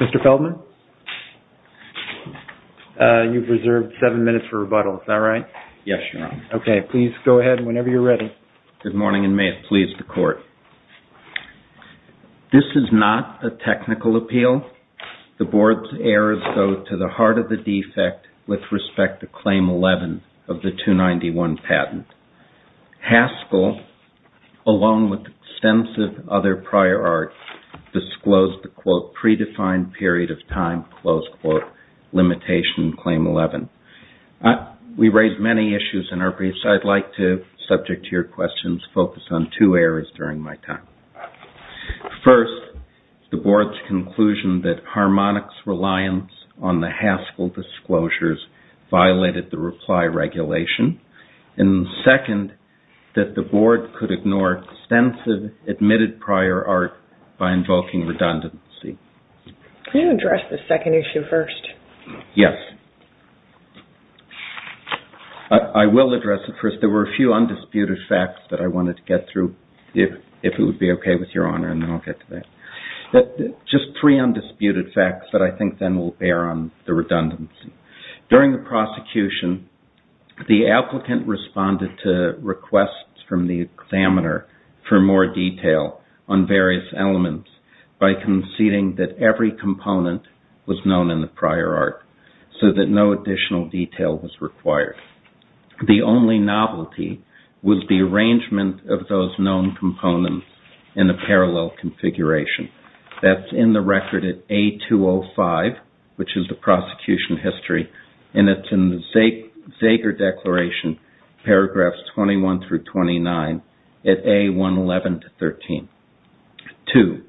Mr. Feldman, you've reserved seven minutes for rebuttal. Is that right? Yes, Your Honor. Okay, please go ahead whenever you're ready. Good morning, and may it please the Court. This is not a technical appeal. The Board's errors go to the heart of the defect with respect to Claim 11 of the 291 patent. Haskell, along with extensive other prior art, disclosed the, quote, predefined period of time, close quote, limitation in Claim 11. We raised many issues in our briefs. I'd like to, subject to your questions, focus on two areas during my time. First, the Board's conclusion that Harmonic's reliance on the Haskell disclosures violated the reply regulation. And second, that the Board could ignore extensive admitted prior art by invoking redundancy. Can you address the second issue first? Yes. I will address it first. There were a few undisputed facts that I wanted to get through, if it would be okay with Your Honor, and then I'll get to that. Just three undisputed facts that I think then will bear on the redundancy. During the prosecution, the applicant responded to requests from the examiner for more detail on various elements by conceding that every component was known in the prior art, so that no additional detail was required. The only novelty was the arrangement of those known components in a parallel configuration. That's in the record at A205, which is the prosecution history, and it's in the Zager Declaration, paragraphs 21 through 29, at A111-13. Two,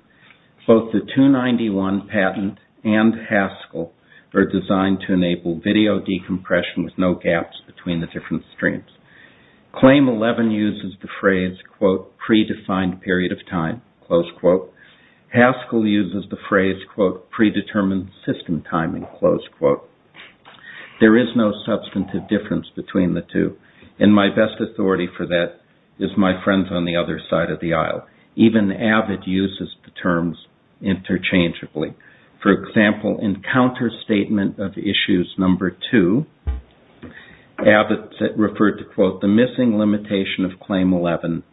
both the 291 patent and Haskell are designed to enable video decompression with no gaps between the different streams. Claim 11 uses the phrase, quote, predefined period of time, close quote. Haskell uses the phrase, quote, predetermined system timing, close quote. There is no substantive difference between the two, and my best authority for that is my friends on the other side of the aisle. Even AVID uses the terms interchangeably. For example, in counterstatement of issues number two, AVID referred to, quote, the missing limitation of claim 11,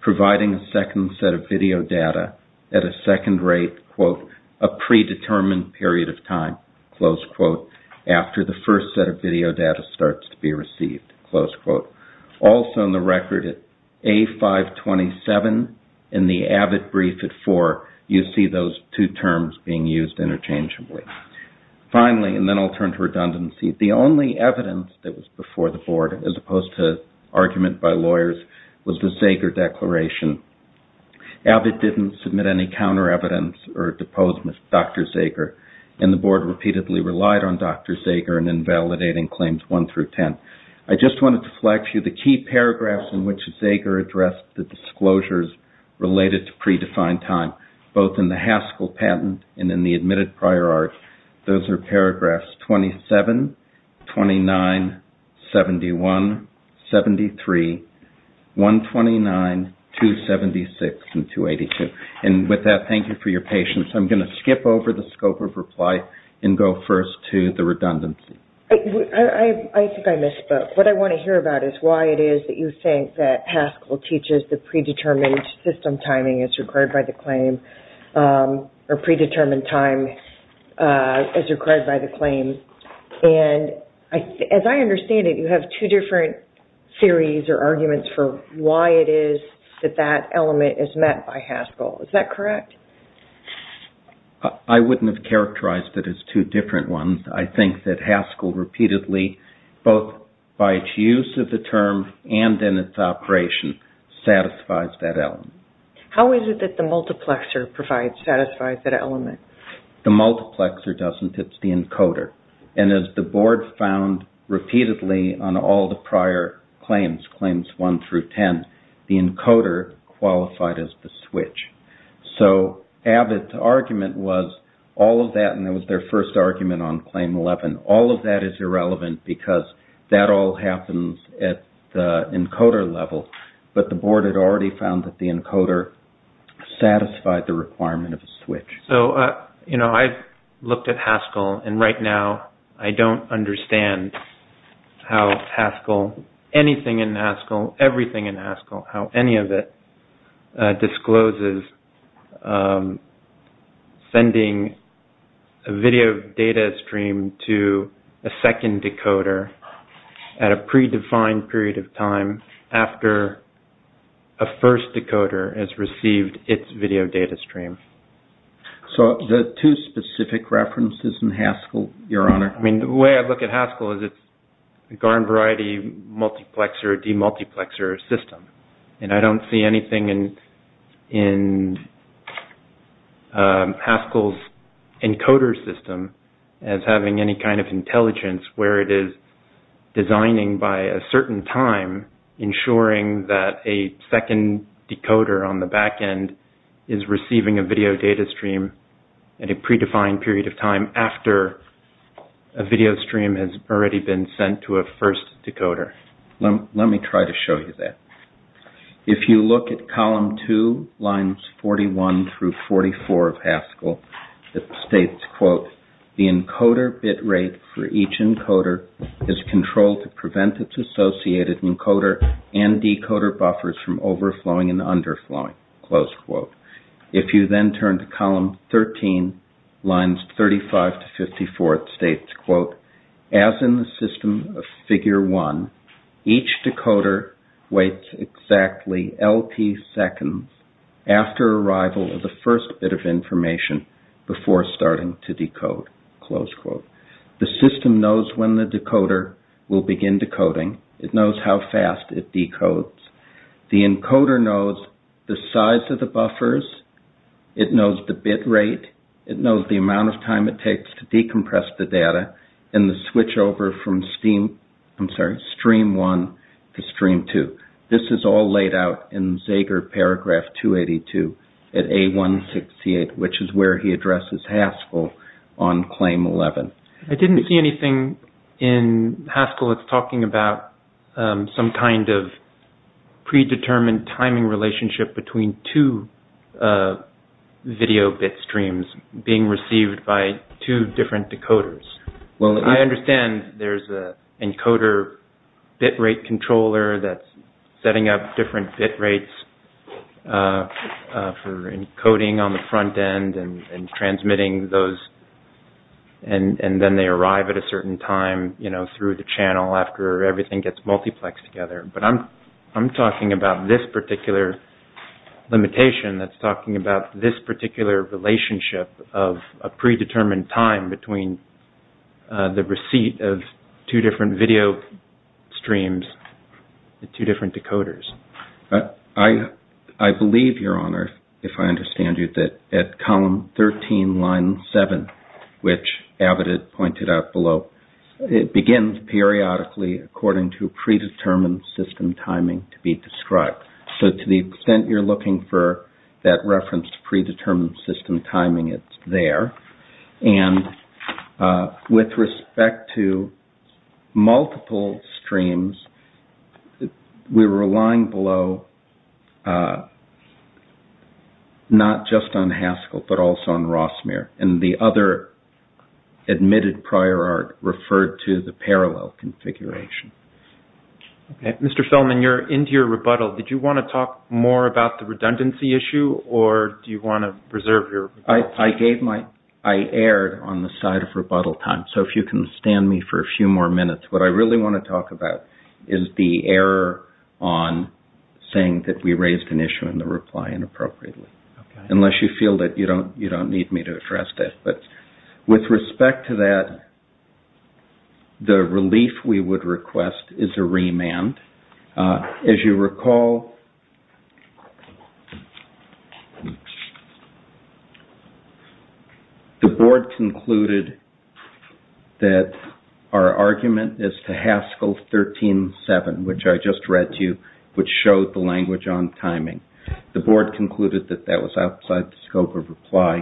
providing a second set of video data at a second rate, quote, a predetermined period of time, close quote. After the first set of video data starts to be received, close quote. Also in the record at A527, in the AVID brief at four, you see those two terms being used interchangeably. Finally, and then I'll turn to redundancy, the only evidence that was before the Board, as opposed to argument by lawyers, was the Zager Declaration. AVID didn't submit any counter-evidence or a deposed Dr. Zager, and the Board repeatedly relied on Dr. Zager in invalidating claims one through ten. I just wanted to flag for you the key paragraphs in which Zager addressed the disclosures related to predefined time, both in the Haskell patent and in the admitted prior art. Those are paragraphs 27, 29, 71, 73, 129, 276, and 282. And with that, thank you for your patience. I'm going to skip over the scope of reply and go first to the redundancy. I think I misspoke. What I want to hear about is why it is that you think that Haskell teaches the predetermined system timing as required by the claim, or predetermined time, as required by the claim. As I understand it, you have two different theories or arguments for why it is that that element is met by Haskell. Is that correct? I wouldn't have characterized it as two different ones. I think that Haskell repeatedly, both by its use of the term and in its operation, satisfies that element. How is it that the multiplexer satisfies that element? The multiplexer doesn't. It's the encoder. And as the board found repeatedly on all the prior claims, claims 1 through 10, the encoder qualified as the switch. So Abbott's argument was all of that, and it was their first argument on claim 11. All of that is irrelevant because that all happens at the encoder level, but the board had already found that the encoder satisfied the requirement of a switch. I've looked at Haskell, and right now I don't understand how Haskell, anything in Haskell, everything in Haskell, how any of it discloses sending a video data stream to a second decoder at a predefined period of time after a first decoder has received its video data stream. Do you have two specific references in Haskell, Your Honor? The way I look at Haskell is it's a GARN variety multiplexer, demultiplexer system. And I don't see anything in Haskell's encoder system as having any kind of intelligence where it is designing by a certain time, ensuring that a second decoder on the back end is receiving a video data stream at a predefined time. And I don't see anything in Haskell's encoder system as having any kind of intelligence where it is designing by a certain time, ensuring that a second decoder on the back end is receiving a video data stream at a predefined period of time after a video stream has already been sent to a first decoder. Let me try to show you that. If you look at column 2, lines 41 through 44 of Haskell, it states, quote, the encoder bit rate for each encoder is controlled to prevent its associated encoder and decoder buffers from overflowing and underflowing, close quote. If you then turn to column 13, lines 35 to 54, it states, quote, as in the system of figure 1, each decoder waits exactly LP seconds after arrival of the first bit of information before starting to decode, close quote. The system knows when the decoder will begin decoding. It knows how fast it decodes. The encoder knows the size of the buffers. It knows the bit rate. It knows the amount of time it takes to decompress the data and the switchover from stream 1 to stream 2. This is all laid out in Zeger paragraph 282 at A168, which is where he addresses Haskell on claim 11. I didn't see anything in Haskell that's talking about some kind of predetermined timing relationship between two video bit streams being received by two different decoders. Well, I understand there's an encoder bit rate controller that's setting up different bit rates for encoding on the front end and transmitting those. And then they arrive at a certain time through the channel after everything gets multiplexed together. But I'm talking about this particular limitation that's talking about this particular relationship of a predetermined time between the receipt of two different video streams at two different decoders. I believe, Your Honor, if I understand you, that at column 13, line 7, which Abbott had said, quote, as in the system of figure 1, each decoder waits exactly LP seconds after arrival of the first bit of information before starting to decode, close quote. And then line 8, which is pointed out below, it begins periodically according to predetermined system timing to be described. So to the extent you're looking for that reference to predetermined system timing, it's there. And with respect to multiple streams, we're relying below not just on Haskell, but also on Rossmere. And the other admitted prior art referred to the parallel configuration. Mr. Feldman, you're into your rebuttal. Did you want to talk more about the redundancy issue, or do you want to reserve your rebuttal? I gave my – I erred on the side of rebuttal time. So if you can stand me for a few more minutes. What I really want to talk about is the error on saying that we raised an issue in the reply inappropriately. Unless you feel that you don't need me to address that. With respect to that, the relief we would request is a remand. As you recall, the board concluded that our argument is to Haskell 13.7, which I just read to you, which showed the language on timing. The board concluded that that was outside the scope of reply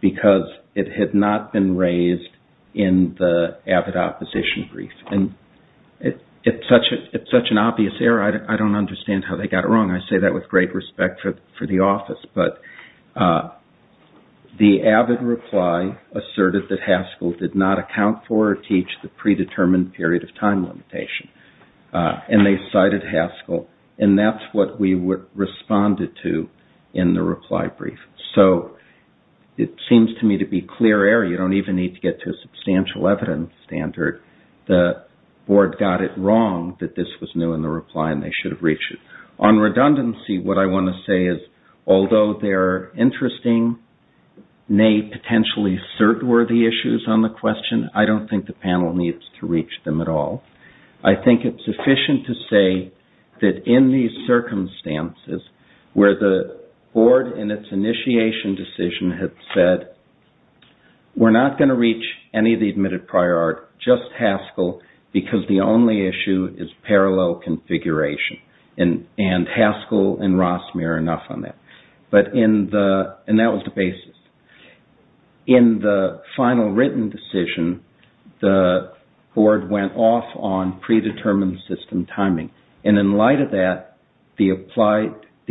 because it had not been raised in the avid opposition brief. And it's such an obvious error, I don't understand how they got it wrong. I say that with great respect for the office. But the avid reply asserted that Haskell did not account for or teach the predetermined period of time limitation. And they cited Haskell, and that's what we responded to in the reply brief. So it seems to me to be clear error. You don't even need to get to a substantial evidence standard. The board got it wrong that this was new in the reply and they should have reached it. On redundancy, what I want to say is, although there are interesting, nay, potentially cert-worthy issues on the question, I don't think the panel needs to reach them at all. I think it's sufficient to say that in these circumstances, where the board in its initiation decision had said, we're not going to reach any of the admitted prior art, just Haskell, because the only issue is parallel configuration. And Haskell and Rossmere are enough on that. In the final written decision, the board went off on predetermined system timing. And in light of that, the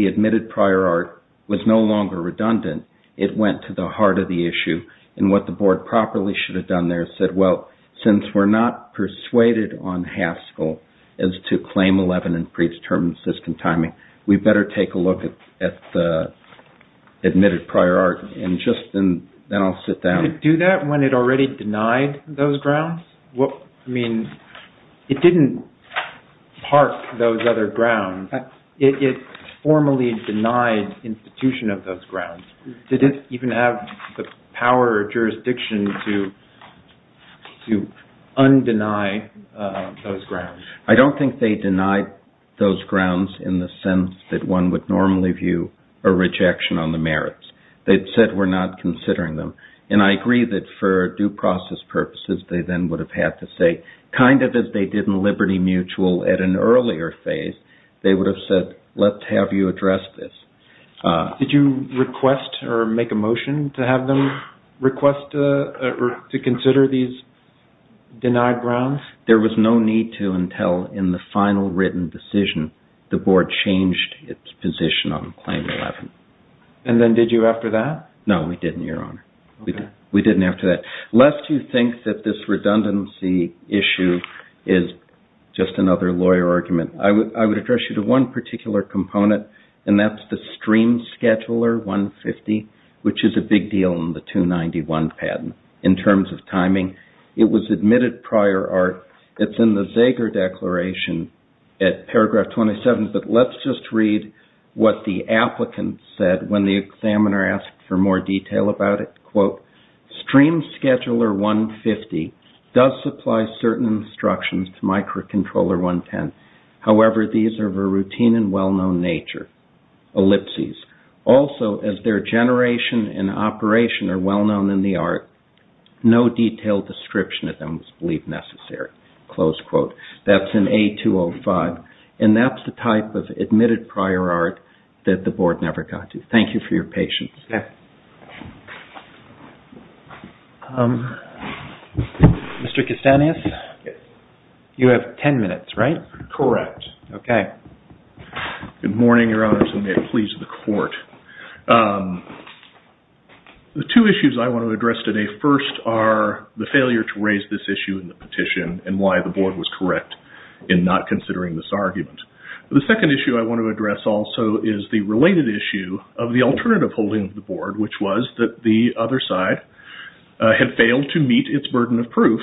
admitted prior art was no longer redundant. It went to the heart of the issue, and what the board properly should have done there is said, well, since we're not persuaded on Haskell as to claim 11 and predetermined system timing, we better take a look at the admitted prior art. And just then I'll sit down. Could it do that when it already denied those grounds? I mean, it didn't park those other grounds. It formally denied institution of those grounds. Did it even have the power or jurisdiction to undeny those grounds? I don't think they denied those grounds in the sense that one would normally view a rejection on the merits. They said, we're not considering them. And I agree that for due process purposes, they then would have had to say, kind of as they did in Liberty Mutual at an earlier phase, they would have said, let's have you address this. Did you request or make a motion to have them request or to consider these denied grounds? There was no need to until in the final written decision the board changed its position on claim 11. And then did you after that? No, we didn't, Your Honor. We didn't after that. Lest you think that this redundancy issue is just another lawyer argument, I would address you to one particular component, and that's the stream scheduler 150, which is a big deal in the 291 patent in terms of timing. It was admitted prior art. It's in the Zeger declaration at paragraph 27, but let's just read what the applicant said when the examiner asked for more detail about it. Quote, stream scheduler 150 does supply certain instructions to microcontroller 110. However, these are of a routine and well-known nature, ellipses. Also, as their generation and operation are well-known in the art, no detailed description of them was believed necessary. Close quote. That's in A205. And that's the type of admitted prior art that the board never got to. Thank you for your patience. Mr. Kastanis, you have 10 minutes, right? Correct. Good morning, Your Honors, and may it please the Court. The two issues I want to address today first are the failure to raise this issue in the petition and why the board was correct in not considering this argument. The second issue I want to address also is the related issue of the alternative holding of the board, which was that the other side had failed to meet its burden of proof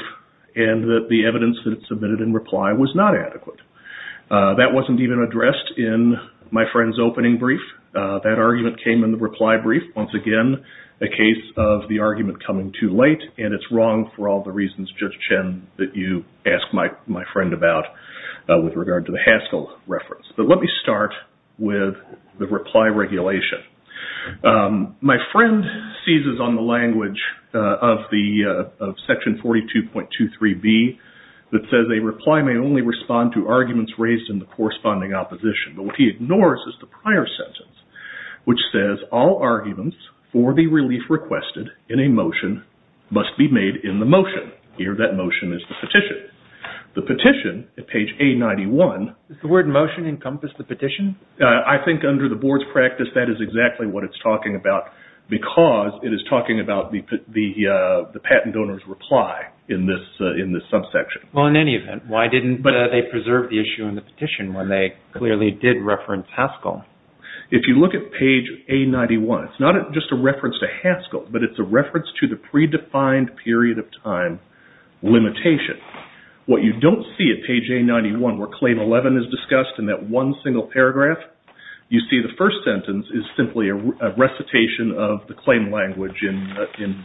and that the evidence that it submitted in reply was not adequate. That wasn't even addressed in my friend's opening brief. That argument came in the reply brief. Once again, a case of the argument coming too late, and it's wrong for all the reasons, Judge Chen, that you asked my friend about with regard to the Haskell reference. But let me start with the reply regulation. My friend seizes on the language of Section 42.23b that says a reply may only respond to arguments raised in the corresponding opposition. But what he ignores is the prior sentence, which says, all arguments for the relief requested in a motion must be made in the motion. Here, that motion is the petition. The petition, at page A91... Does the word motion encompass the petition? I think under the board's practice that is exactly what it's talking about because it is talking about the patent donor's reply in this subsection. Well, in any event, why didn't they preserve the issue in the petition when they clearly did reference Haskell? If you look at page A91, it's not just a reference to Haskell, but it's a reference to the predefined period of time limitation. What you don't see at page A91 where Claim 11 is discussed in that one single paragraph, you see the first sentence is simply a recitation of the claim language in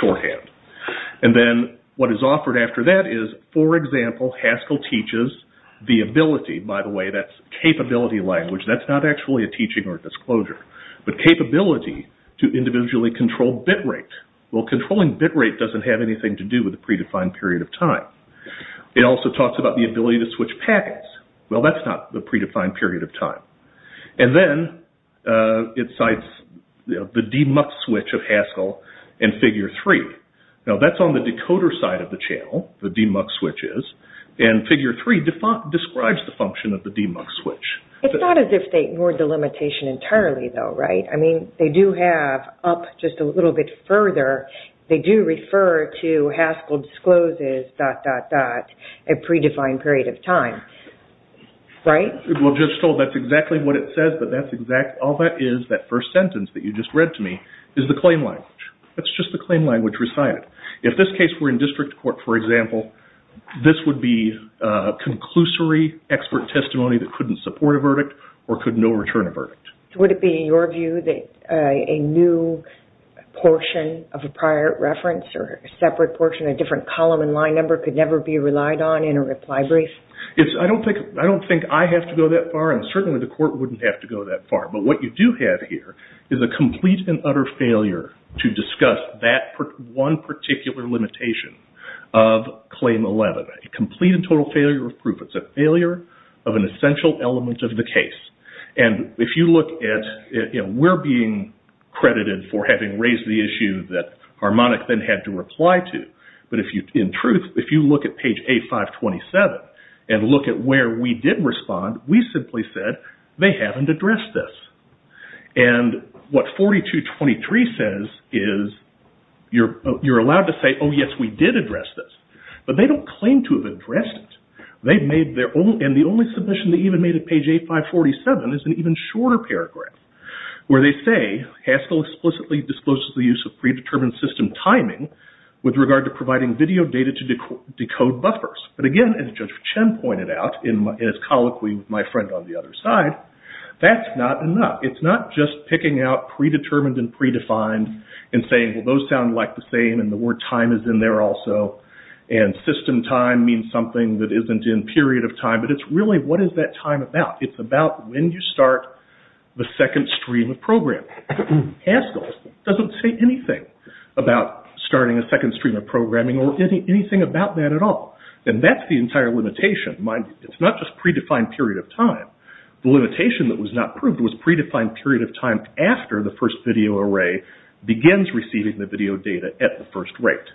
shorthand. And then what is offered after that is for example, Haskell teaches the ability, by the way, that's capability language, that's not actually a teaching or a disclosure, but capability to individually control bitrate. Well, controlling bitrate doesn't have anything to do with the predefined period of time. It also talks about the ability to switch packets. Well, that's not the predefined period of time. And then it cites the demux switch of Haskell in figure 3. Now, that's on the decoder side of the channel, the demux switch is, and figure 3 describes the function of the demux switch. It's not as if they ignored the limitation entirely though, right? I mean, they do have up just a little bit further, they do refer to Haskell discloses dot, dot, dot, a predefined period of time. Right? Well, Judge Stoll, that's exactly what it says, but that's exactly, all that is, that first sentence that you just read to me, is the claim language. That's just the claim language recited. If this case were in district court, for example, this would be a conclusory expert testimony that couldn't support a verdict or could no return a verdict. Would it be in your view that a new portion of a prior reference or a separate portion, a different column and line number could never be relied on in a reply brief? I don't think I have to go that far and certainly the court wouldn't have to go that far, but what you do have here is a complete and utter failure to discuss that one particular limitation of Claim 11. A complete and total failure of proof. It's a failure of an essential element of the case. And if you look at, you know, we're being credited for having raised the issue that Harmonic then had to reply to, but if you in truth, if you look at page A527 and look at where we did respond, we simply said, they haven't addressed this. And what 4223 says is you're allowed to say, oh yes, we did address this. But they don't claim to have addressed it. And the only submission they even made at page A547 is an even shorter paragraph where they say, Haskell explicitly discloses the use of predetermined system timing with regard to providing video data to decode buffers. But again, as Judge Chen pointed out in his colloquy with my friend on the other side, that's not enough. It's not just picking out predetermined and predefined and saying, well those sound like the same and the word time is in there also. And system time means something that isn't in period of time. But it's really, what is that time about? It's about when you start the second stream of programming. Haskell doesn't say anything about starting a second stream of programming or anything about that at all. And that's the entire limitation. It's not just predefined period of time. The limitation that was not proved was when the first video array begins receiving the video data at the first rate.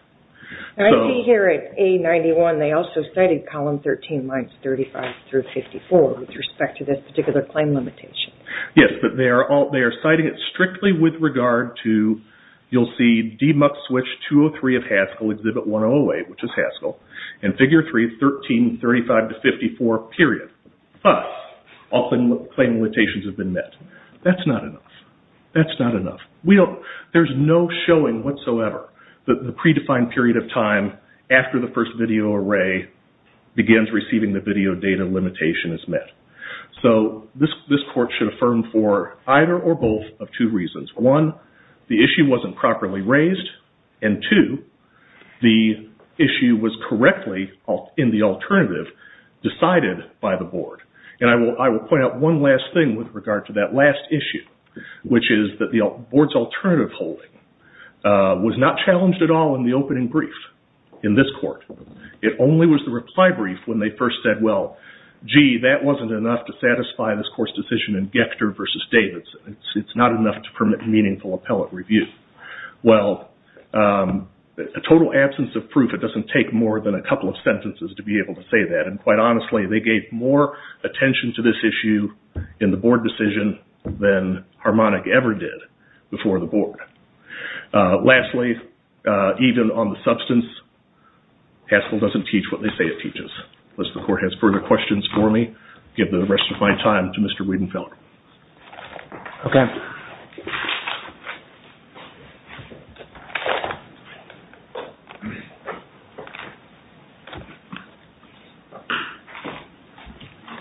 I see here at A91 they also cited column 13 lines 35 through 54 with respect to this particular claim limitation. Yes, but they are citing it strictly with regard to you'll see DMUX switch 203 of Haskell exhibit 108, which is Haskell. And figure 3, 1335 to 54 period. But often claim limitations have been met. That's not enough. That's not enough. There's no showing whatsoever that the predefined period of time after the first video array begins receiving the video data limitation is met. So this court should affirm for either or both of two reasons. One, the issue wasn't properly raised and two, the issue was correctly in the alternative decided by the board. And I will point out one last thing with regard to that last issue, which is that the board's alternative holding was not challenged at all in the opening brief in this court. It only was the reply brief when they first said, well, gee, that wasn't enough to satisfy this court's decision in Gechter versus Davidson. It's not enough to permit meaningful appellate review. Well, a total absence of proof it doesn't take more than a couple of sentences to be able to say that. And quite honestly, they gave more attention to this issue in the board decision than Harmonic ever did before the board. Lastly, even on the substance Haskell doesn't teach what they say it teaches. Unless the court has further questions for me I'll give the rest of my time to Mr. Wiedenfeller. Okay.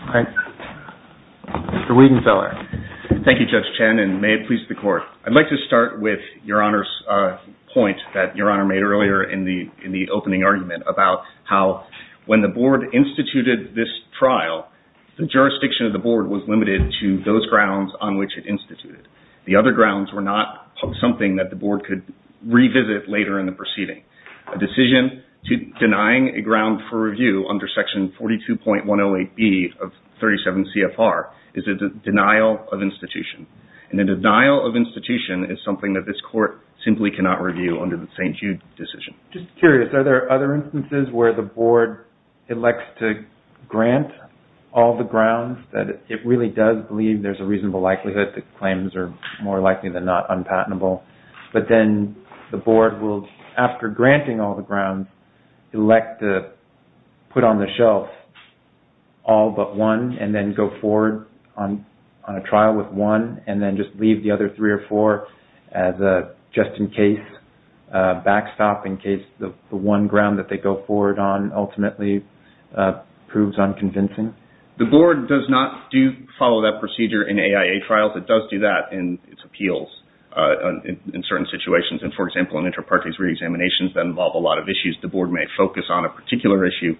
All right. Mr. Wiedenfeller. Thank you, Judge Chen, and may it please the court. I'd like to start with Your Honor's point that Your Honor made earlier in the opening argument about how when the board instituted this trial the jurisdiction of the board was limited to those grounds on which it instituted. The other grounds were not something that the board could revisit later in the proceeding. A decision denying a ground for 108B of 37 CFR is a denial of institution. And a denial of institution is something that this court simply cannot review under the St. Jude decision. Just curious, are there other instances where the board elects to grant all the grounds that it really does believe there's a reasonable likelihood that claims are more likely than not unpatentable, but then the board will, after granting all the grounds, elect to put on the shelf all but one and then go forward on a trial with one and then just leave the other three or four just in case, backstop in case the one ground that they go forward on ultimately proves unconvincing? The board does not do follow that procedure in AIA trials. It does do that in its appeals in certain situations. And, for example, in intraparties reexaminations that involve a lot of issues, the board may focus on a particular issue,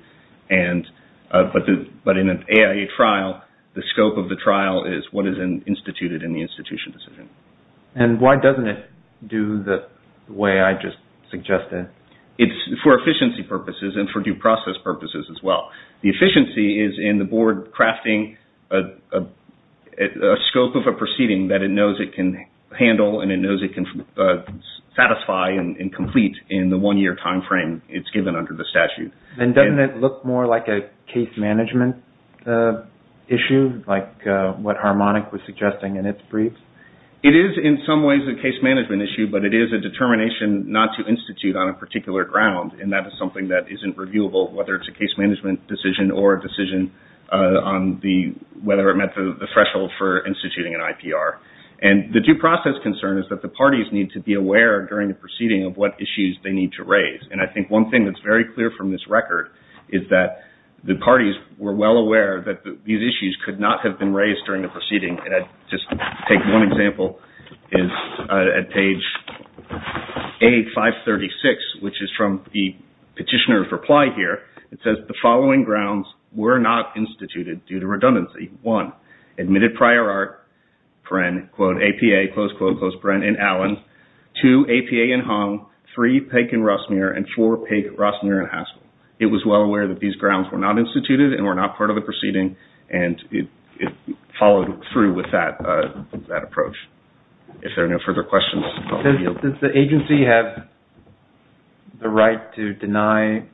but in an AIA trial, the scope of the trial is what is instituted in the institution decision. And why doesn't it do the way I just suggested? It's for efficiency purposes and for due process purposes as well. The efficiency is in the board crafting a scope of a proceeding that it knows it can handle and it knows it can satisfy and complete in the one-year time frame it's given under the statute. And doesn't it look more like a case management issue, like what Harmonic was suggesting in its brief? It is, in some ways, a case management issue, but it is a determination not to institute on a particular ground and that is something that isn't reviewable, whether it's a case management decision or a decision on whether it met the threshold for instituting an IPR. And the due process concern is that the parties need to be aware during the proceeding of what issues they need to raise. And I think one thing that's very clear from this record is that the parties were well aware that these issues could not have been raised during the proceeding. And I'll just take one example at page 8-536, which is from the petitioner's reply here. It says the following grounds were not instituted due to redundancy. One, admitted prior art, APA, and Allen. Two, APA and Hong. Three, Peck and Rossmuir. And four, Peck, Rossmuir, and Haskell. It was well aware that these grounds were not instituted and were not part of the proceeding and it followed through with that approach. If there are no further questions, I'll yield. Does the agency have the right to deny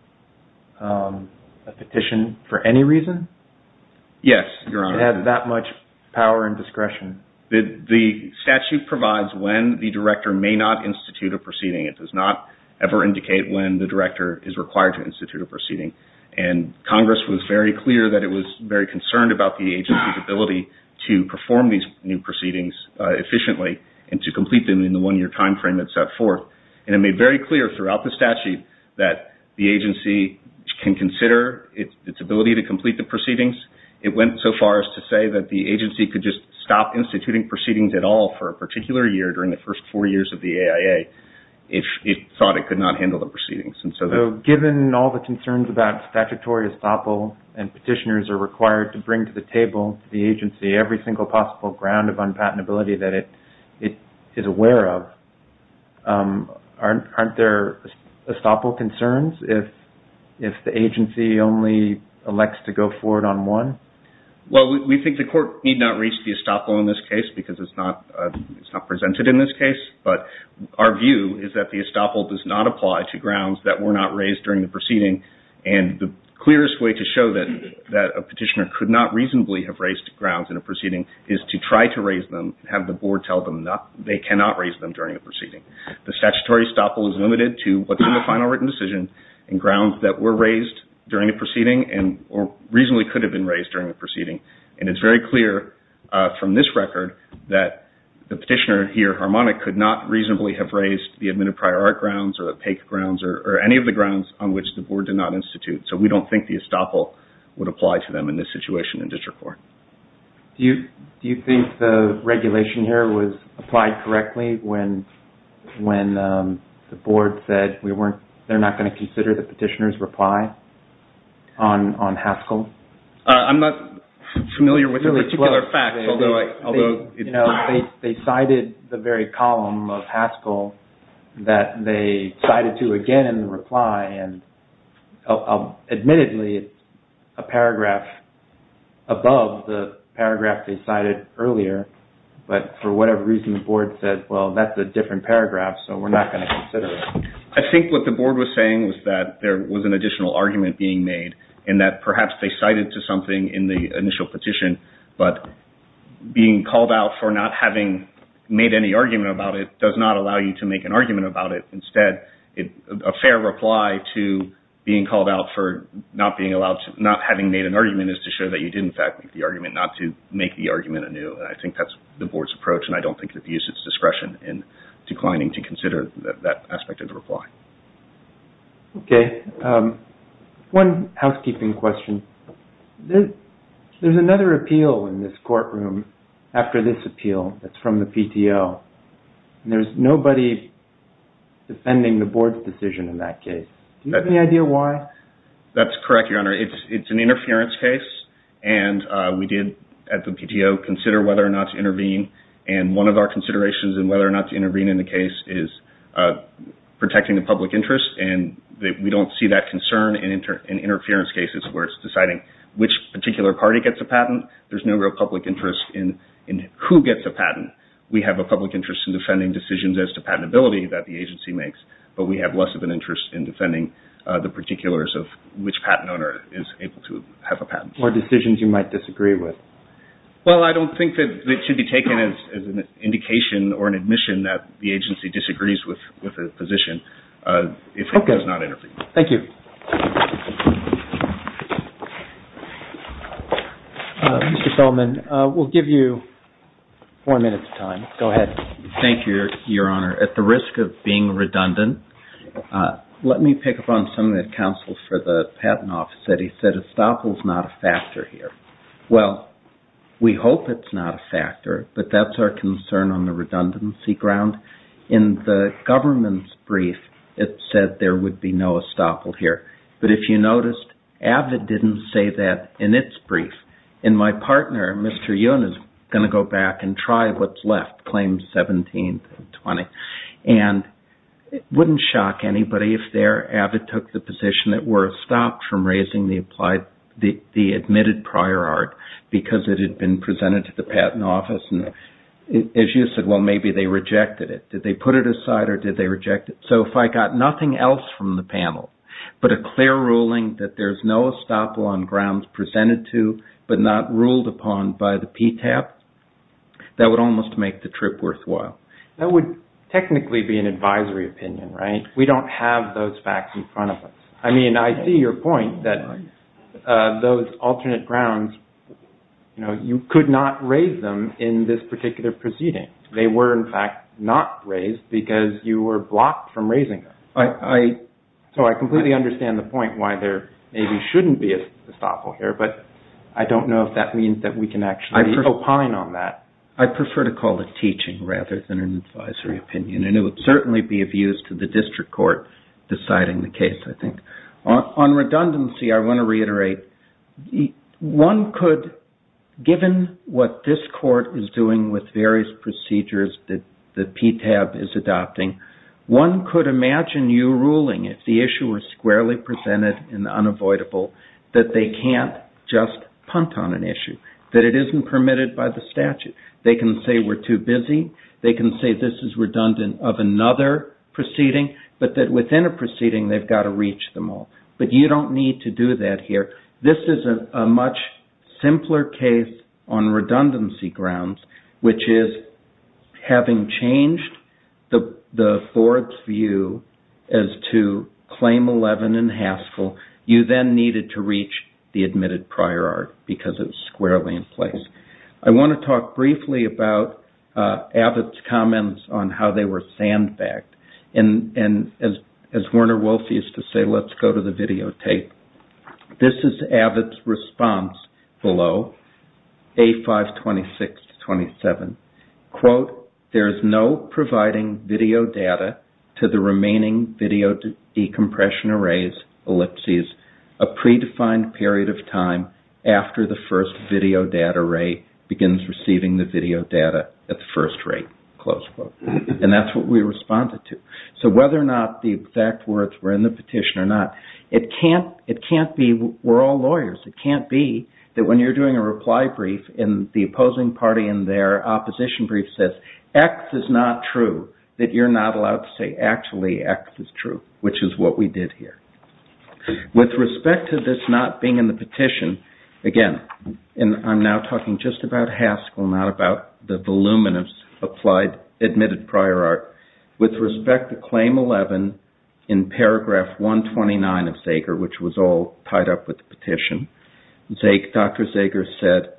a petition for any reason? Yes, Your Honor. To have that much power and discretion? The statute provides when the director may not institute a proceeding. It does not ever indicate when the director is required to institute a proceeding. And Congress was very clear that it was very concerned about the agency's ability to perform these new proceedings efficiently and to complete them in the one-year time frame it set forth. And it made very clear throughout the statute that the agency can consider its ability to complete the proceedings. It went so far as to say that the agency could just stop instituting proceedings at all for a particular year during the first four years of the AIA if it thought it could not handle the proceedings. So given all the concerns about statutory estoppel and petitioners are required to bring to the table, the agency, every single possible ground of unpatentability that it is aware of, aren't there estoppel concerns if the agency only elects to go forward one-on-one? Well, we think the court need not reach the estoppel in this case because it's not presented in this case. But our view is that the estoppel does not apply to grounds that were not raised during the proceeding. And the clearest way to show that a petitioner could not reasonably have raised grounds in a proceeding is to try to raise them and have the board tell them they cannot raise them during the proceeding. The statutory estoppel is limited to what's in the final written decision and grounds that were raised during the proceeding. And it's very clear from this record that the petitioner here, Harmonic, could not reasonably have raised the admitted prior art grounds or the PAKE grounds or any of the grounds on which the board did not institute. So we don't think the estoppel would apply to them in this situation in district court. Do you think the regulation here was applied correctly when the board said they're not going to consider the petitioner's reply on Haskell? I'm not familiar with this particular fact. They cited the very column of Haskell that they cited to again in the reply and admittedly a paragraph above the paragraph they cited earlier. But for whatever reason the board said, well that's a different paragraph so we're not going to consider it. I think what the board was saying was that there was an additional argument being made and that perhaps they cited to something in the initial petition but being called out for not having made any argument about it does not allow you to make an argument about it. Instead, a fair reply to being called out for not having made an argument is to show that you did in fact make the argument not to make the argument anew. And I think that's the board's approach and I don't think it views its discretion in declining to consider that aspect of the reply. One housekeeping question. There's another appeal in this courtroom after this appeal that's from the PTO and there's nobody defending the board's decision in that case. Do you have any idea why? That's correct, Your Honor. It's an interference case and we did at the PTO consider whether or not to intervene and one of our considerations in whether or not to intervene in the case is protecting the public interest and we don't see that concern in interference cases where it's deciding which particular party gets a patent. There's no real public interest in who gets a patent. We have a public interest in defending decisions as to patentability that the agency makes but we have less of an interest in defending the particulars of which patent owner is able to have a patent. Or decisions you might disagree with. Well, I don't think that it should be taken as an indication or an admission that the agency disagrees with the position if it does not intervene. Thank you. Mr. Solman, we'll give you four minutes of time. Go ahead. Thank you, Your Honor. At the risk of being redundant, let me pick up on something that counsel for the Patent Office said. He said estoppel's not a factor here. Well, we hope it's not a factor. But that's our concern on the redundancy ground. In the government's brief, it said there would be no estoppel here. But if you noticed, AVID didn't say that in its brief. And my partner, Mr. Yun, is going to go back and try what's left, Claim 17-20. And it wouldn't shock anybody if there AVID took the position that we're stopped from raising the admitted prior art because it had been presented to the Patent Office. And as you said, well, maybe they rejected it. Did they put it aside or did they reject it? So if I got nothing else from the panel but a clear ruling that there's no estoppel on grounds presented to but not ruled upon by the PTAP, that would almost make the trip worthwhile. That would technically be an advisory opinion, right? We don't have those facts in front of us. I mean, I see your point that those alternate grounds, you know, you could not raise them in this particular proceeding. They were, in fact, not raised because you were blocked from raising them. So I completely understand the point why there maybe shouldn't be an estoppel here. But I don't know if that means that we can actually opine on that. I prefer to call it teaching rather than an advisory opinion. And it would certainly be of use to the district court deciding the case, I think. On redundancy, I want to reiterate, one could, given what this court is doing with various procedures that PTAP is adopting, one could imagine you ruling, if the issue were squarely presented and unavoidable, that they can't just punt on an issue, that it isn't permitted by the statute. They can say we're too busy. They can say this is redundant of another proceeding, but that in a proceeding, they've got to reach them all. But you don't need to do that here. This is a much simpler case on redundancy grounds, which is, having changed the board's view as to Claim 11 and Haskell, you then needed to reach the admitted prior art because it was squarely in place. I want to talk briefly about Abbott's comments on how they were sandbagged. And as Werner Wolfe used to say, let's go to the videotape. This is Abbott's response below. A526-27. Quote, there is no providing video data to the remaining video decompression arrays, ellipses, a predefined period of time after the first video data array begins receiving the video data at the first rate. Close quote. And that's what we responded to. So whether or not the exact words were in the petition or not, it can't be we're all lawyers. It can't be that when you're doing a reply brief and the opposing party in their opposition brief says X is not true, that you're not allowed to say actually X is true, which is what we did here. With respect to this not being in the petition, again, and I'm now talking just about Haskell, not about the voluminous admitted prior art, with respect to Claim 11 in paragraph 129 of Zager, which was all tied up with the petition, Dr. Zager said,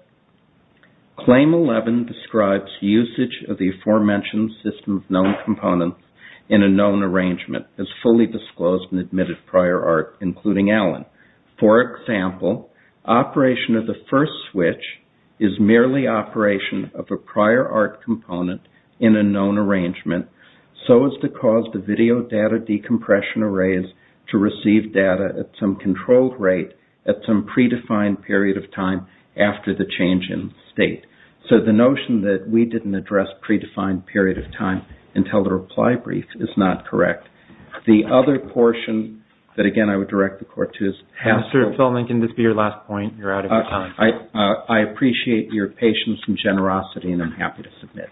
Claim 11 describes usage of the aforementioned system of known components in a known arrangement as fully disclosed in admitted prior art, including Allen. For example, operation of the first switch is merely operation of a prior art component in a known arrangement so as to cause the video data decompression arrays to receive data at some controlled rate at some predefined period of time after the change in state. So the notion that we didn't address predefined period of time until the reply brief is not correct. The other portion that, again, I would direct the court to is Haskell. I appreciate your patience and generosity and I'm happy to submit.